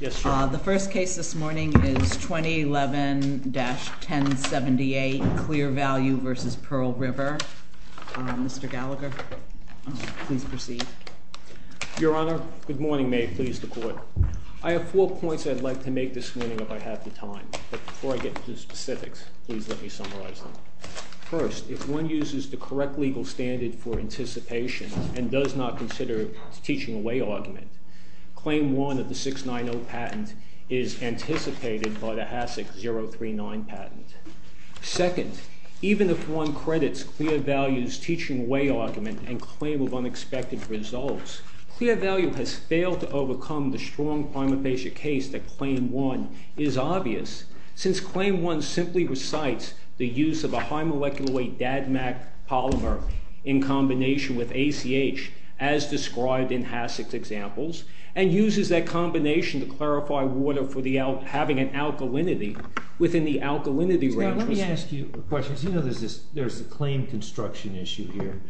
The first case this morning is 2011-1078, CLEARVALUE v. PEARL RIVER. Mr. Gallagher, please proceed. Your Honor, good morning. May it please the Court. I have four points I'd like to make this morning if I have the time. But before I get to the specifics, please let me summarize them. First, if one uses the correct legal standard for anticipation and does not consider a teaching away argument, CLAIM 1 of the 690 patent is anticipated by the HASIC 039 patent. Second, even if one credits CLEARVALUE's teaching away argument and claim of unexpected results, CLEARVALUE has failed to overcome the strong prima facie case that CLAIM 1 is obvious. Since CLAIM 1 simply recites the use of a high-molecular-weight DADMACC polymer in combination with ACH, as described in HASIC's examples, and uses that combination to clarify water for having an alkalinity within the alkalinity range. Mr. Gallagher, let me ask you a question. You know there's a claim construction issue here.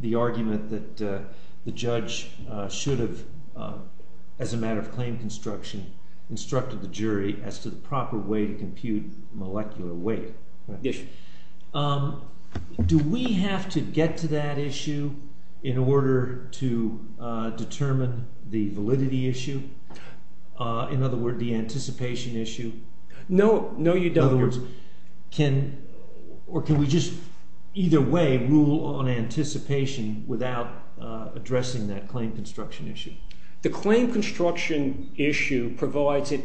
The argument that the judge should have, as a matter of claim construction, instructed the jury as to the proper way to compute molecular weight. Do we have to get to that issue in order to determine the validity issue? In other words, the anticipation issue? No, you don't. In other words, can we just either way rule on anticipation without addressing that claim construction issue? The claim construction issue provides an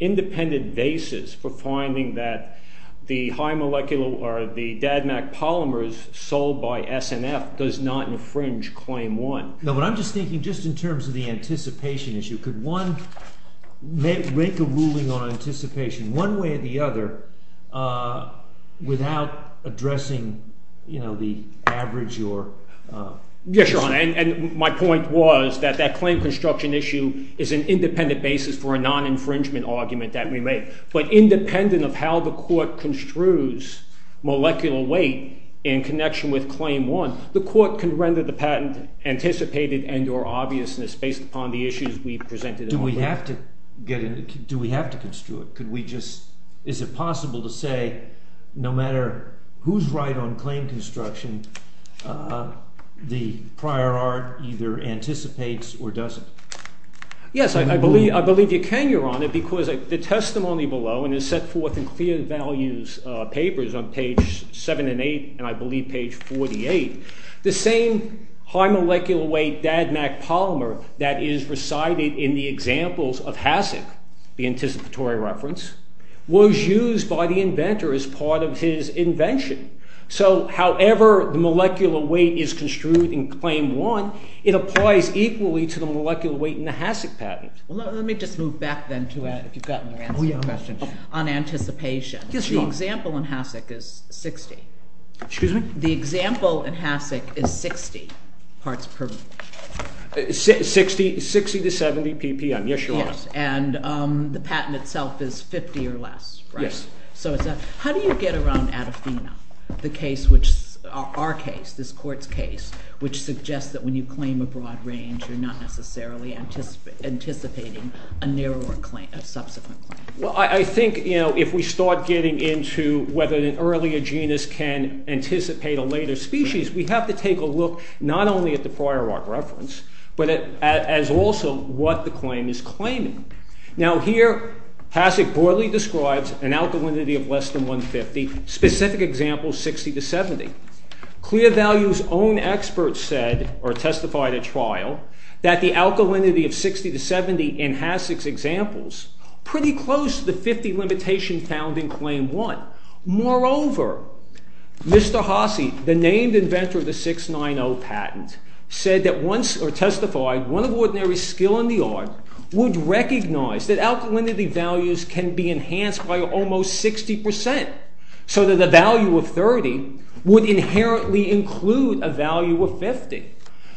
independent basis for finding that the high-molecular, or the DADMACC polymers sold by SNF does not infringe CLAIM 1. No, but I'm just thinking just in terms of the anticipation issue. Could one make a ruling on anticipation, one way or the other, without addressing the average? Yes, Your Honor, and my point was that that claim construction issue is an independent basis for a non-infringement argument that we make. But independent of how the court construes molecular weight in connection with CLAIM 1, the court can render the patent anticipated and or obviousness based upon the issues we've presented. Do we have to construe it? Is it possible to say no matter who's right on claim construction, the prior art either anticipates or doesn't? Yes, I believe you can, Your Honor, because the testimony below, and it's set forth in clear values papers on page 7 and 8, and I believe page 48, the same high-molecular weight DADMACC polymer that is recited in the examples of HASIC, the anticipatory reference, was used by the inventor as part of his invention. So however the molecular weight is construed in CLAIM 1, it applies equally to the molecular weight in the HASIC patent. Well, let me just move back then to it, if you've gotten your answer to the question, on anticipation. Because the example in HASIC is 60. Excuse me? The example in HASIC is 60 parts per mole. 60 to 70 ppm, yes, Your Honor. Yes, and the patent itself is 50 or less, right? Yes. So how do you get around ADAFINA, our case, this court's case, which suggests that when you claim a broad range, you're not necessarily anticipating a subsequent claim? Well, I think, you know, if we start getting into whether an earlier genus can anticipate a later species, we have to take a look not only at the prior reference, but at also what the claim is claiming. Now here HASIC broadly describes an alkalinity of less than 150, specific examples 60 to 70. Clear Values' own experts said, or testified at trial, that the alkalinity of 60 to 70 in HASIC's examples, pretty close to the 50 limitation found in CLAIM 1. Moreover, Mr. Hasse, the named inventor of the 690 patent, said that once, or testified, one of ordinary skill in the art would recognize that alkalinity values can be enhanced by almost 60%, so that the value of 30 would inherently include a value of 50.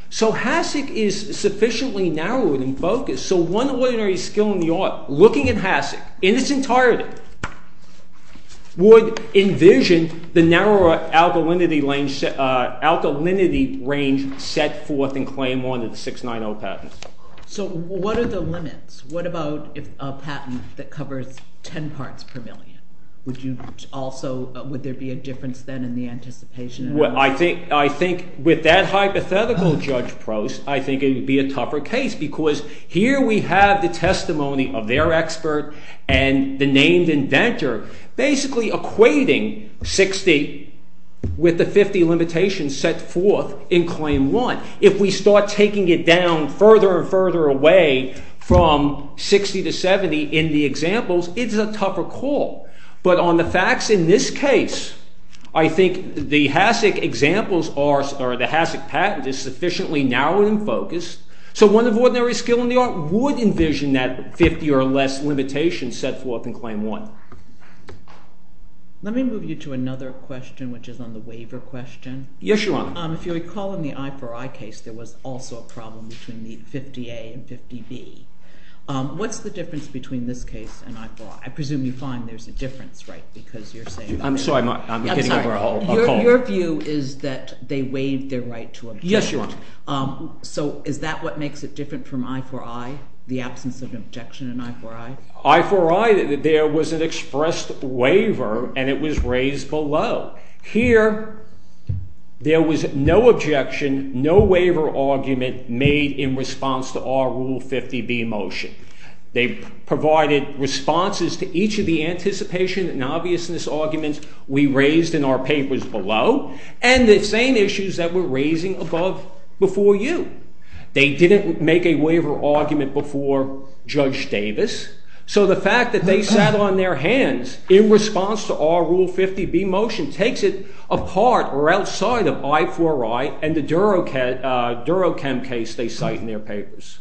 So HASIC is sufficiently narrowed and focused, so one ordinary skill in the art, looking at HASIC in its entirety, would envision the narrower alkalinity range set forth in CLAIM 1 of the 690 patent. So what are the limits? What about a patent that covers 10 parts per million? Would you also, would there be a difference then in the anticipation? Well, I think with that hypothetical, Judge Prost, I think it would be a tougher case, because here we have the testimony of their expert and the named inventor, basically equating 60 with the 50 limitation set forth in CLAIM 1. If we start taking it down further and further away from 60 to 70 in the examples, it's a tougher call. But on the facts in this case, I think the HASIC patent is sufficiently narrowed and focused, so one of ordinary skill in the art would envision that 50 or less limitation set forth in CLAIM 1. Let me move you to another question, which is on the waiver question. Yes, Your Honor. If you recall in the I-4-I case, there was also a problem between the 50-A and 50-B. What's the difference between this case and I-4-I? I presume you find there's a difference, right, because you're saying that— I'm sorry, I'm getting over a call. Your view is that they waived their right to objection. Yes, Your Honor. So is that what makes it different from I-4-I, the absence of objection in I-4-I? I-4-I, there was an expressed waiver, and it was raised below. Here, there was no objection, no waiver argument made in response to our Rule 50-B motion. They provided responses to each of the anticipation and obviousness arguments we raised in our papers below and the same issues that we're raising above before you. They didn't make a waiver argument before Judge Davis, so the fact that they sat on their hands in response to our Rule 50-B motion takes it apart or outside of I-4-I and the Durochem case they cite in their papers.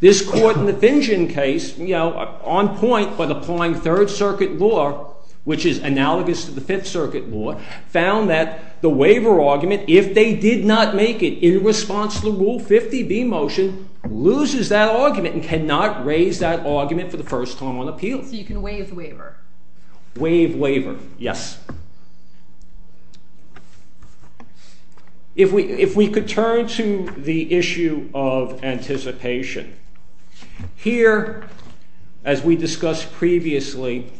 This court in the Fingen case, you know, on point but applying Third Circuit law, which is analogous to the Fifth Circuit law, found that the waiver argument, if they did not make it in response to the Rule 50-B motion, loses that argument and cannot raise that argument for the first time on appeal. So you can waive the waiver? Waive waiver, yes. If we could turn to the issue of anticipation. Here, as we discussed previously,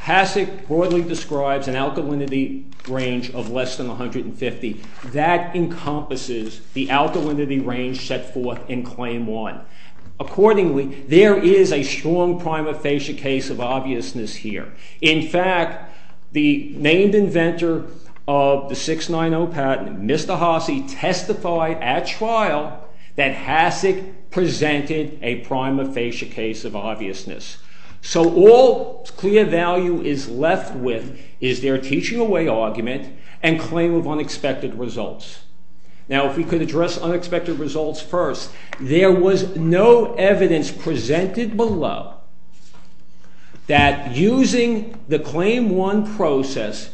Hasek broadly describes an alkalinity range of less than 150. That encompasses the alkalinity range set forth in Claim 1. Accordingly, there is a strong prima facie case of obviousness here. In fact, the named inventor of the 690 patent, Mr. Hasek, testified at trial that Hasek presented a prima facie case of obviousness. So all clear value is left with is their teaching away argument and claim of unexpected results. Now, if we could address unexpected results first. There was no evidence presented below that using the Claim 1 process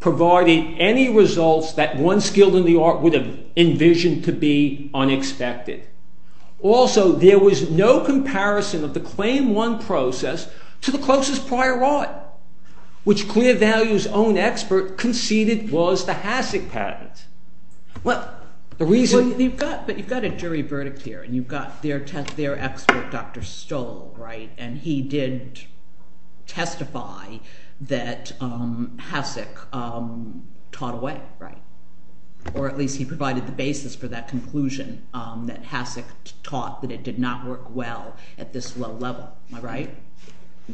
provided any results that one skilled in the art would have envisioned to be unexpected. Also, there was no comparison of the Claim 1 process to the closest prior art, which Clear Value's own expert conceded was the Hasek patent. But you've got a jury verdict here, and you've got their expert, Dr. Stoll, and he did testify that Hasek taught away, or at least he provided the basis for that conclusion that Hasek taught that it did not work well at this low level. Am I right?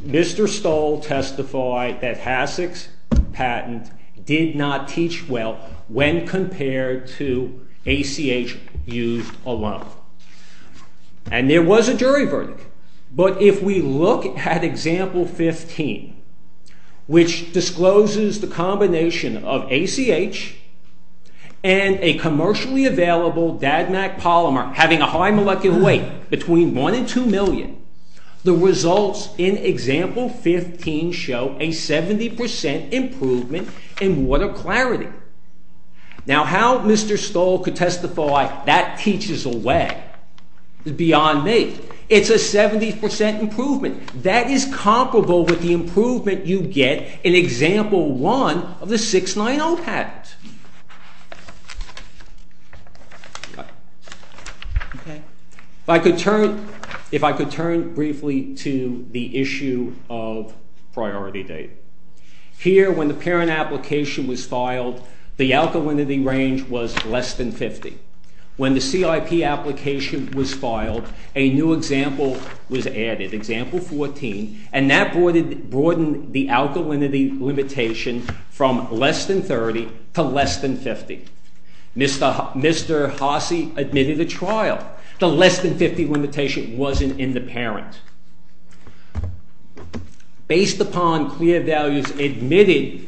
Mr. Stoll testified that Hasek's patent did not teach well when compared to ACH used alone. And there was a jury verdict. But if we look at Example 15, which discloses the combination of ACH and a commercially available DADMACC polymer having a high molecular weight between 1 and 2 million, the results in Example 15 show a 70% improvement in water clarity. Now, how Mr. Stoll could testify that teaches away beyond me, it's a 70% improvement. That is comparable with the improvement you get in Example 1 of the 690 patent. If I could turn briefly to the issue of priority date. Here, when the parent application was filed, the alkalinity range was less than 50. When the CIP application was filed, a new example was added. Example 14. And that broadened the alkalinity limitation from less than 30 to less than 50. Mr. Hasek admitted a trial. The less than 50 limitation wasn't in the parent. Based upon clear values admitted,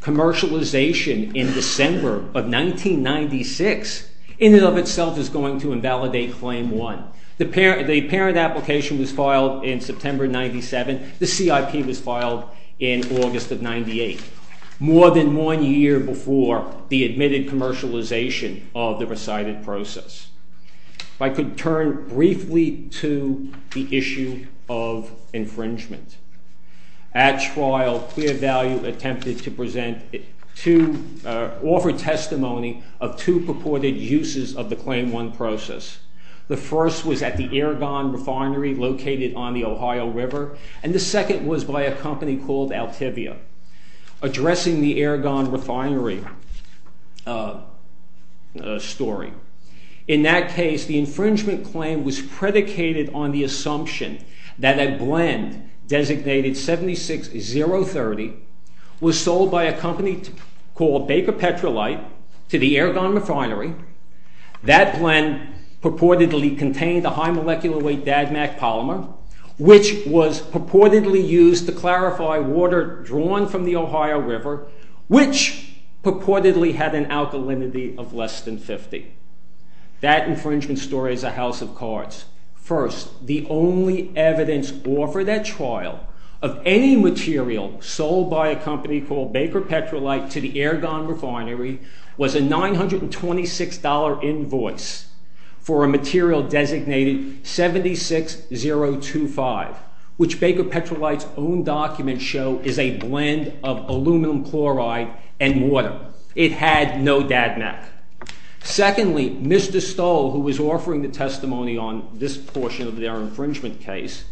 commercialization in December of 1996 in and of itself is going to invalidate Claim 1. The parent application was filed in September 97. The CIP was filed in August of 98, more than one year before the admitted commercialization of the recited process. If I could turn briefly to the issue of infringement. At trial, Clear Value attempted to present to offer testimony of two purported uses of the Claim 1 process. The first was at the Aragon Refinery located on the Ohio River, and the second was by a company called Altivia, addressing the Aragon Refinery story. In that case, the infringement claim was predicated on the assumption that a blend designated 76030 was sold by a company called Baker Petrolite to the Aragon Refinery. That blend purportedly contained a high molecular weight DADMAC polymer, which was purportedly used to clarify water drawn from the Ohio River, which purportedly had an alkalinity of less than 50. That infringement story is a house of cards. First, the only evidence offered at trial of any material sold by a company called Baker Petrolite to the Aragon Refinery was a $926 invoice for a material designated 76025, which Baker Petrolite's own documents show is a blend of aluminum chloride and water. It had no DADMAC. Secondly, Mr. Stoll, who was offering the testimony on this portion of their infringement case,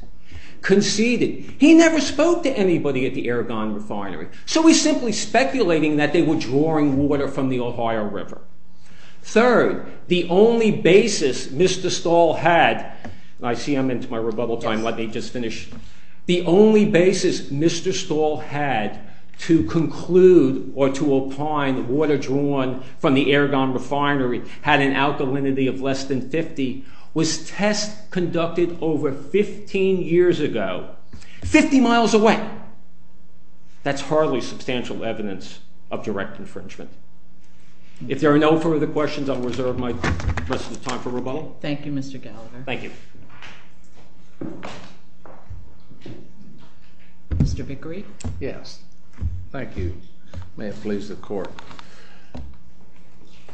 conceded. He never spoke to anybody at the Aragon Refinery, so he's simply speculating that they were drawing water from the Ohio River. Third, the only basis Mr. Stoll had... I see I'm into my rebuttal time. Let me just finish. The only basis Mr. Stoll had to conclude or to opine water drawn from the Aragon Refinery had an alkalinity of less than 50 was tests conducted over 15 years ago, 50 miles away. That's hardly substantial evidence of direct infringement. If there are no further questions, I'll reserve my rest of the time for rebuttal. Thank you, Mr. Gallagher. Thank you. Mr. Vickery? Yes. Thank you. May it please the Court.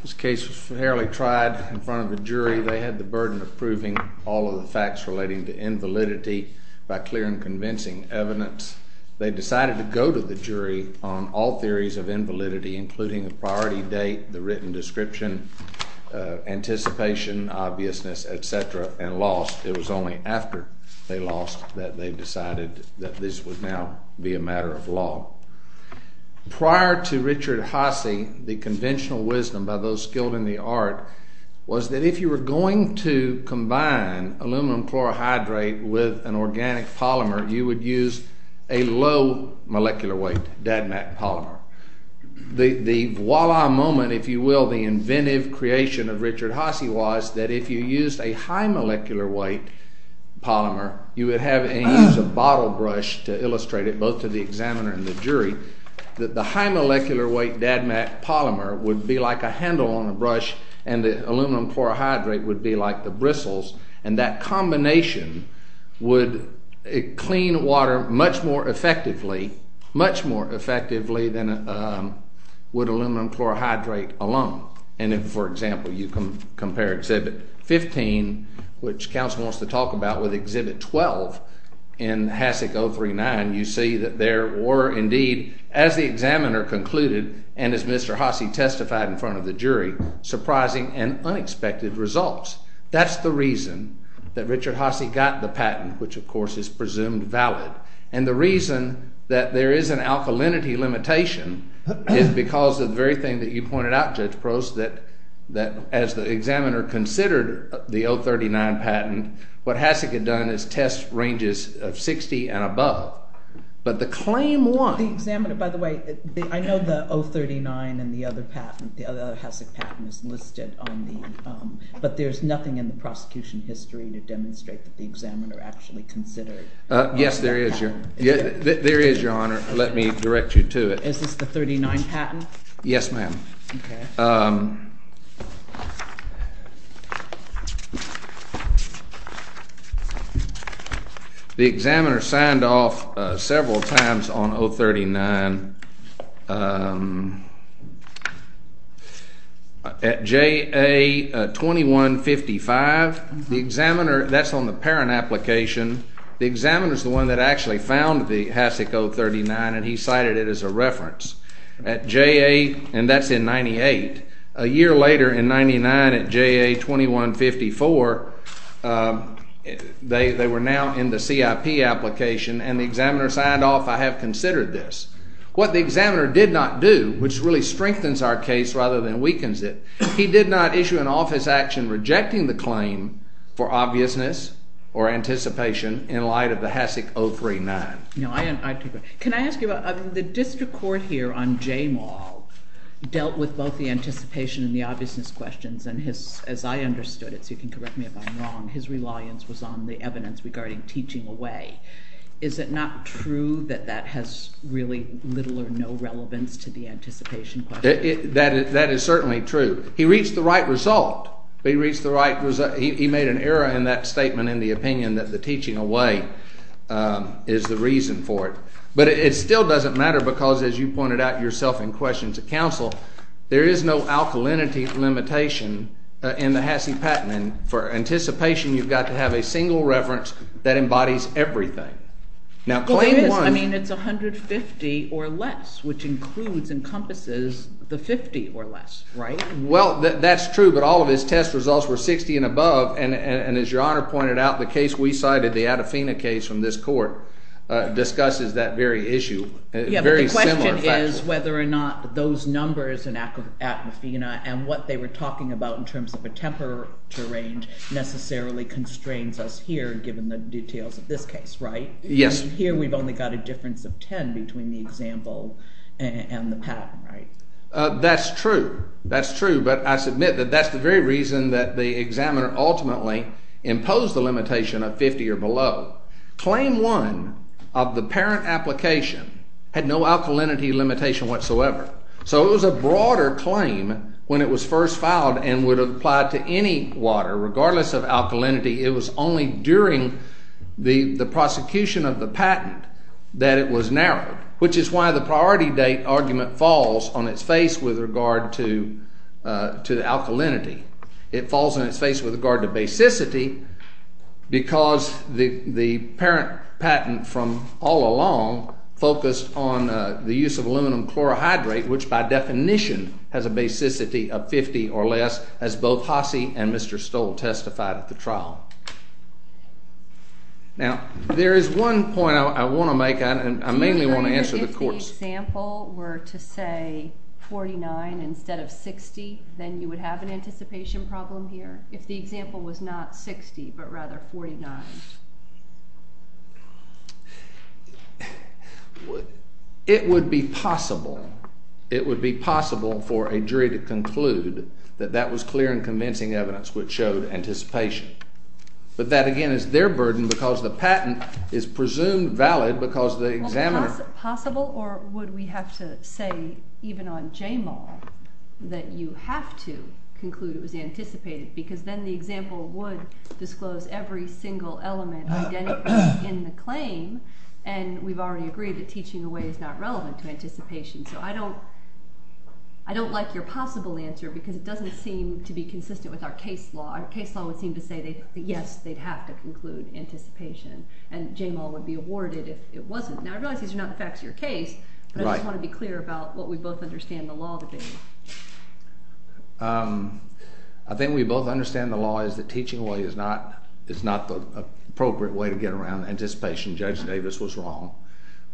This case was fairly tried in front of a jury. They had the burden of proving all of the facts relating to invalidity by clear and convincing evidence. They decided to go to the jury on all theories of invalidity including the priority date, the written description, anticipation, obviousness, etc., and lost. It was only after they lost that they decided that this would now be a matter of law. Prior to Richard Hasse, the conventional wisdom by those skilled in the art was that if you were going to combine aluminum chlorohydrate with an organic polymer, you would use a low-molecular weight DADMACC polymer. The voila moment, if you will, the inventive creation of Richard Hasse was that if you used a high-molecular weight polymer, you would have to use a bottle brush to illustrate it, both to the examiner and the jury, that the high-molecular weight DADMACC polymer would be like a handle on a brush and the aluminum chlorohydrate would be like the bristles, and that combination would clean water much more effectively, much more effectively than would aluminum chlorohydrate alone. And if, for example, you compare Exhibit 15, which counsel wants to talk about, with Exhibit 12 in HACIC 039, you see that there were indeed, as the examiner concluded and as Mr. Hasse testified in front of the jury, surprising and unexpected results. That's the reason that Richard Hasse got the patent, which of course is presumed valid. And the reason that there is an alkalinity limitation is because of the very thing that you pointed out, Judge Prost, that as the examiner considered the 039 patent, what HACIC had done is test ranges of 60 and above. But the claim was... The examiner, by the way, I know the 039 and the other HACIC patent is listed on the... But there's nothing in the prosecution history to demonstrate that the examiner actually considered... Yes, there is, Your Honor. Let me direct you to it. Is this the 039 patent? Yes, ma'am. The examiner signed off several times on 039 at JA 2155. The examiner... That's on the parent application. The examiner's the one that actually found the HACIC 039 and he cited it as a reference. At JA... And that's in 98. A year later, in 99, at JA 2154, they were now in the CIP application and the examiner signed off, I have considered this. What the examiner did not do, which really strengthens our case rather than weakens it, he did not issue an office action rejecting the claim for obviousness or anticipation in light of the HACIC 039. Can I ask you about... The district court here on J Maul dealt with both the anticipation and the obviousness questions and as I understood it, so you can correct me if I'm wrong, his reliance was on the evidence regarding teaching away. Is it not true that that has really little or no relevance to the anticipation question? That is certainly true. He reached the right result. He made an error in that statement in the opinion that the teaching away is the reason for it. But it still doesn't matter because, as you pointed out yourself in questions at council, there is no alkalinity limitation in the HACIC patent and for anticipation you've got to have a single reference that embodies everything. I mean, it's 150 or less, which includes and encompasses the 50 or less, right? Well, that's true, but all of his test results were 60 and above and, as Your Honor pointed out, the case we cited, the Attafina case from this court, discusses that very issue. The question is whether or not those numbers in Attafina and what they were talking about in terms of a temperature range necessarily constrains us here, given the details of this case, right? Yes. Here we've only got a difference of 10 between the example and the patent, right? That's true. That's true. But I submit that that's the very reason that the examiner ultimately imposed the limitation of 50 or below. Claim 1 of the parent application had no alkalinity limitation whatsoever. So it was a broader claim when it was first filed and would apply to any water, regardless of alkalinity. It was only during the prosecution of the patent that it was narrowed, which is why the priority date argument falls on its face with regard to alkalinity. It falls on its face with regard to basicity because the parent patent from all along focused on the use of aluminum chlorohydrate, which by definition has a basicity of 50 or less, as both Hasse and Mr. Stoll testified at the trial. Now, there is one point I want to make, and I mainly want to answer the court's... If the example were to say 49 instead of 60, then you would have an anticipation problem here? If the example was not 60, but rather 49? It would be possible. It would be possible for a jury to conclude that that was clear and convincing evidence which showed anticipation. But that, again, is their burden because the patent is presumed valid because the examiner... Well, is it possible, or would we have to say, even on JMAL, that you have to conclude it was anticipated because then the example would disclose every single element identified in the claim, and we've already agreed that teaching away is not relevant to anticipation. So I don't like your possible answer because it doesn't seem to be consistent with our case law. Our case law would seem to say that, yes, they'd have to conclude anticipation, and JMAL would be awarded if it wasn't. Now, I realize these are not the facts of your case, but I just want to be clear about what we both understand the law to be. I think we both understand the law is that teaching away is not the appropriate way to get around anticipation. Judge Davis was wrong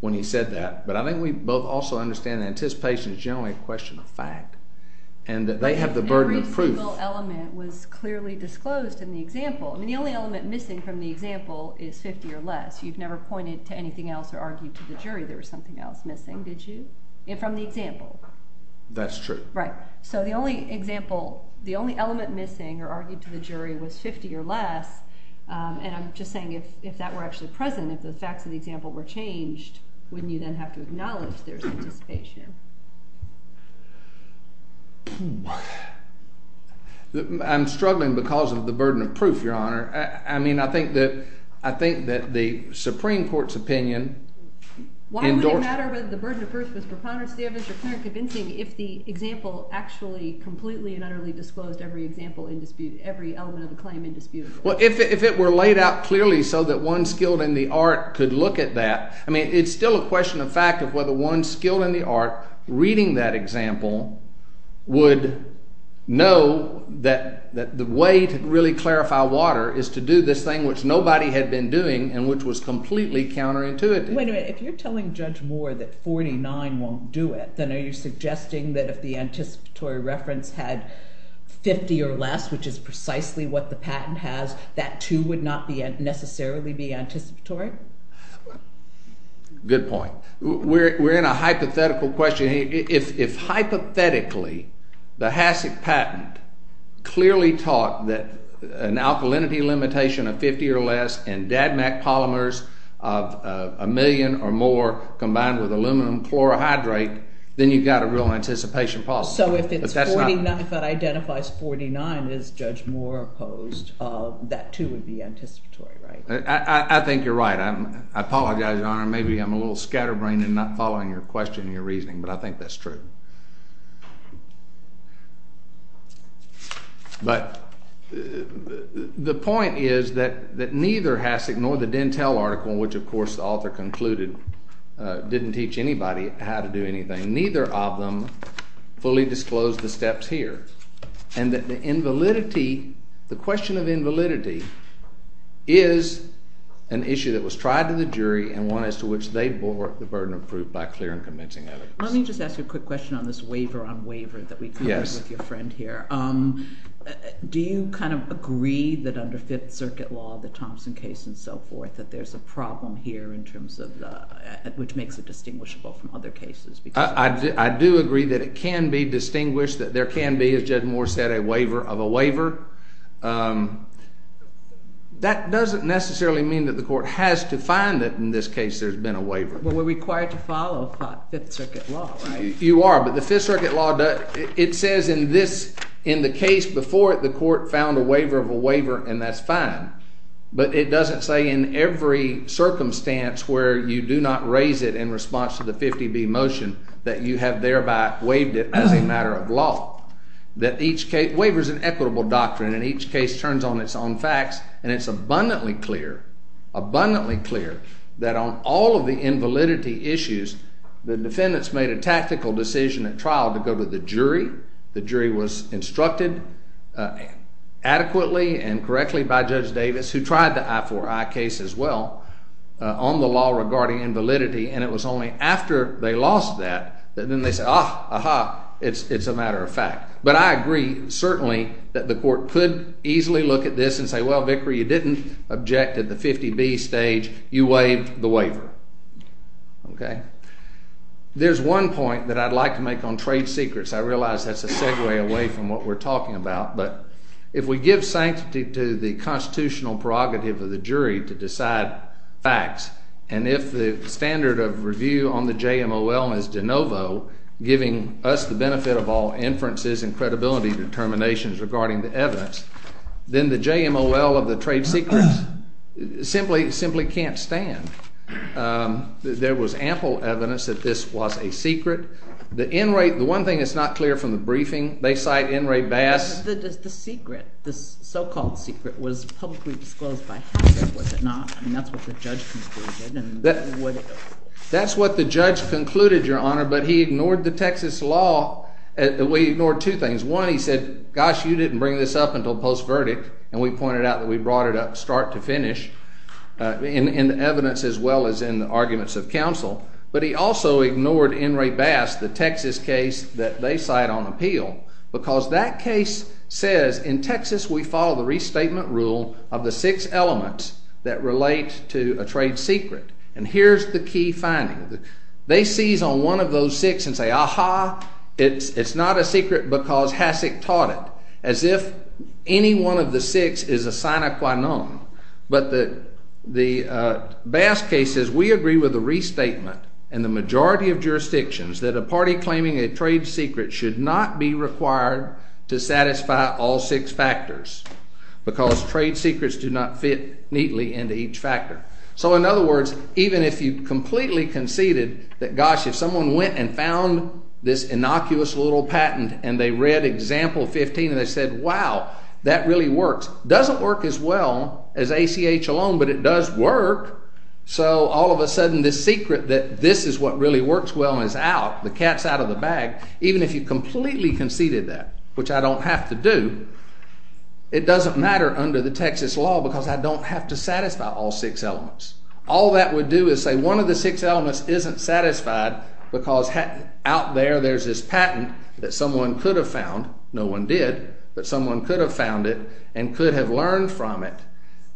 when he said that. But I think we both also understand that anticipation is generally a question of fact, and that they have the burden of proof. Every single element was clearly disclosed in the example. I mean, the only element missing from the example is 50 or less. You've never pointed to anything else or argued to the jury there was something else missing, did you, from the example? That's true. Right. So the only example, the only element missing or argued to the jury was 50 or less, and I'm just saying if that were actually present, if the facts of the example were changed, wouldn't you then have to acknowledge there's anticipation? I'm struggling because of the burden of proof, Your Honor. I mean, I think that the Supreme Court's opinion... Why would it matter whether the burden of proof was preponderance, Davis? If the example actually completely and utterly disclosed every example in dispute, every element of the claim in dispute. Well, if it were laid out clearly so that one skilled in the art could look at that, I mean, it's still a question of fact of whether one skilled in the art reading that example would know that the way to really clarify water is to do this thing which nobody had been doing and which was completely counterintuitive. Wait a minute. If you're telling Judge Moore that 49 won't do it, then are you suggesting that if the anticipatory reference had 50 or less, which is precisely what the patent has, that 2 would not necessarily be anticipatory? Good point. We're in a hypothetical question. If hypothetically the HACCP patent clearly taught that an alkalinity limitation of 50 or less and DADMACC polymers of a million or more combined with aluminum chlorohydrate, then you've got a real anticipation problem. So if it identifies 49 as Judge Moore opposed, that 2 would be anticipatory, right? I think you're right. I apologize, Your Honor. Maybe I'm a little scatterbrained in not following your question and your reasoning, but I think that's true. But the point is that neither HACCP nor the Dentel article, which of course the author concluded didn't teach anybody how to do anything, neither of them fully disclosed the steps here. And that the question of invalidity is an issue that was tried to the jury and one as to which they bore the burden of proof by clear and convincing evidence. Let me just ask you a quick question on this waiver on waiver that we covered with your friend here. Do you kind of agree that under Fifth Circuit law, the Thompson case and so forth, that there's a problem here in terms of which makes it distinguishable from other cases? I do agree that it can be distinguished, that there can be, as Judge Moore said, a waiver of a waiver. That doesn't necessarily mean that the court has to find that in this case there's been a waiver. Well, we're required to follow Fifth Circuit law, right? You are, but the Fifth Circuit law, it says in the case before it, the court found a waiver of a waiver and that's fine. But it doesn't say in every circumstance where you do not raise it in response to the 50B motion that you have thereby waived it as a matter of law. Waiver is an equitable doctrine and each case turns on its own facts and it's abundantly clear, abundantly clear, that on all of the invalidity issues, the defendants made a tactical decision at trial to go to the jury. The jury was instructed adequately and correctly by Judge Davis, who tried the I-4-I case as well, on the law regarding invalidity, and it was only after they lost that that then they said, ah, aha, it's a matter of fact. But I agree certainly that the court could easily look at this and say, well, Vickery, you didn't object at the 50B stage. You waived the waiver. There's one point that I'd like to make on trade secrets. I realize that's a segue away from what we're talking about, but if we give sanctity to the constitutional prerogative of the jury to decide facts and if the standard of review on the JMOL is de novo, giving us the benefit of all inferences and credibility determinations regarding the evidence, then the JMOL of the trade secrets simply can't stand. There was ample evidence that this was a secret. The one thing that's not clear from the briefing, they cite Enright Bass. The secret, the so-called secret, was publicly disclosed by Hatchett, was it not? I mean, that's what the judge concluded. That's what the judge concluded, Your Honor, but he ignored the Texas law. He ignored two things. One, he said, gosh, you didn't bring this up until post-verdict, and we pointed out that we brought it up start to finish in the evidence as well as in the arguments of counsel, but he also ignored Enright Bass, the Texas case that they cite on appeal because that case says in Texas we follow the restatement rule of the six elements that relate to a trade secret, and here's the key finding. They seize on one of those six and say, aha, it's not a secret because Hasek taught it, as if any one of the six is a sine qua non. But the Bass case says we agree with the restatement and the majority of jurisdictions that a party claiming a trade secret should not be required to satisfy all six factors because trade secrets do not fit neatly into each factor. So in other words, even if you completely conceded that, gosh, if someone went and found this innocuous little patent and they read example 15 and they said, wow, that really works, doesn't work as well as ACH alone, but it does work, so all of a sudden this secret that this is what really works well and is out, the cat's out of the bag, even if you completely conceded that, which I don't have to do, it doesn't matter under the Texas law because I don't have to satisfy all six elements. All that would do is say one of the six elements isn't satisfied because out there there's this patent that someone could have found, no one did, but someone could have found it and could have learned from it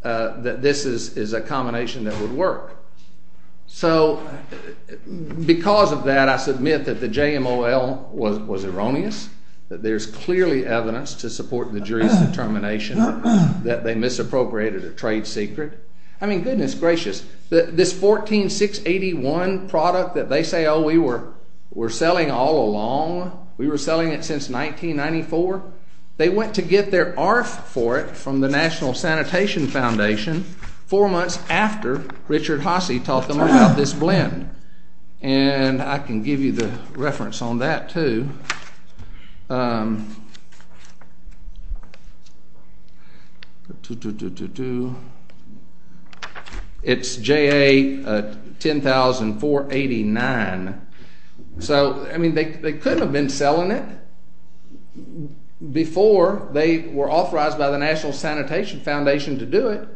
that this is a combination that would work. So because of that, I submit that the JMOL was erroneous, that there's clearly evidence to support the jury's determination that they misappropriated a trade secret. I mean, goodness gracious, this 14681 product that they say, oh, we were selling all along, we were selling it since 1994, they went to get their ARF for it from the National Sanitation Foundation four months after Richard Hossie taught them about this blend, and I can give you the reference on that too. It's JA 100489. So, I mean, they could have been selling it before they were authorized by the National Sanitation Foundation to do it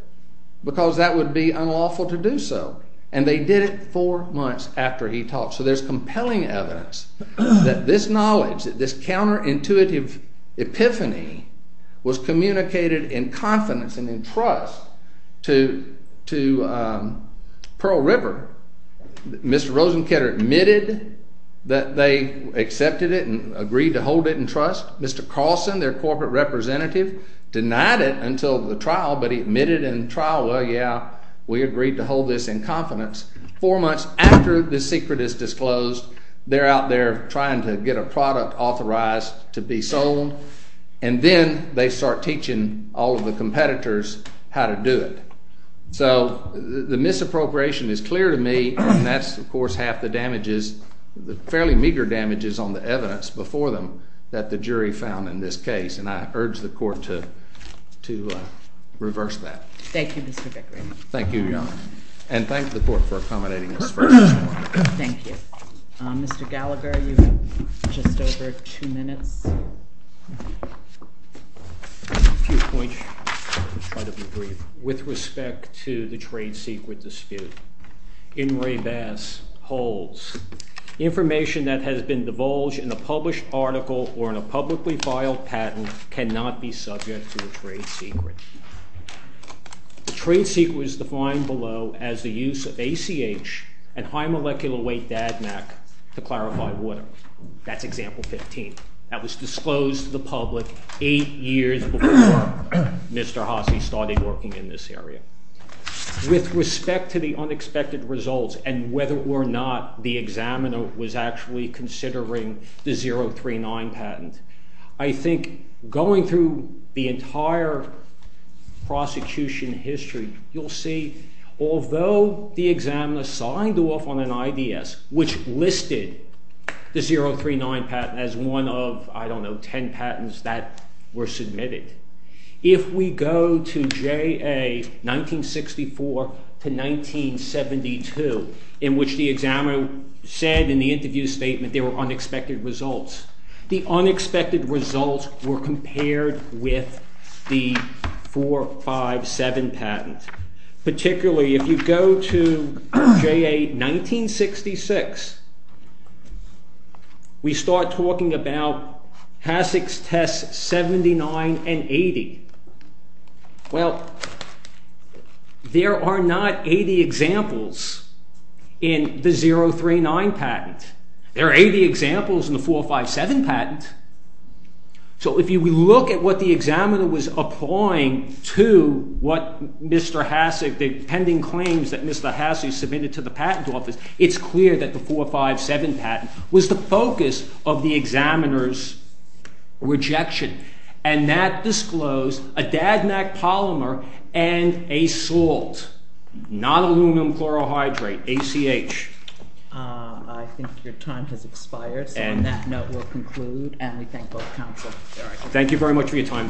because that would be unlawful to do so, and they did it four months after he taught. So there's compelling evidence that this knowledge, that this counterintuitive epiphany was communicated in confidence and in trust to Pearl River. Mr. Rosenketter admitted that they accepted it and agreed to hold it in trust. Mr. Carlson, their corporate representative, denied it until the trial, but he admitted in trial, well, yeah, we agreed to hold this in confidence. Four months after this secret is disclosed, they're out there trying to get a product authorized to be sold, and then they start teaching all of the competitors how to do it. So the misappropriation is clear to me, and that's, of course, half the damages, the fairly meager damages on the evidence before them that the jury found in this case, and I urge the court to reverse that. Thank you, Mr. Bickering. Thank you, Your Honor. And thank the court for accommodating this first. Thank you. Mr. Gallagher, you have just over two minutes. A few points. I'll try to be brief. With respect to the trade secret dispute, Inouye Bass holds information that has been divulged in a published article or in a publicly filed patent cannot be subject to a trade secret. The trade secret is defined below as the use of ACH, a high molecular weight DADMAC, to clarify water. That's example 15. That was disclosed to the public eight years before Mr. Hasse started working in this area. With respect to the unexpected results and whether or not the examiner was actually considering the 039 patent, I think going through the entire prosecution history, you'll see although the examiner signed off on an IDS, which listed the 039 patent as one of, I don't know, 10 patents that were submitted. If we go to JA 1964 to 1972, in which the examiner said in the interview statement there were unexpected results, the unexpected results were compared with the 457 patent. Particularly if you go to JA 1966, we start talking about Hasek's tests 79 and 80. Well, there are not 80 examples in the 039 patent. There are 80 examples in the 457 patent. So if you look at what the examiner was applying to what Mr. Hasek, the pending claims that Mr. Hasek submitted to the patent office, it's clear that the 457 patent was the focus of the examiner's rejection. And that disclosed a DADMAC polymer and a salt, not aluminum chlorohydrate, ACH. I think your time has expired. So on that note, we'll conclude and we thank both counsel. Thank you very much for your time.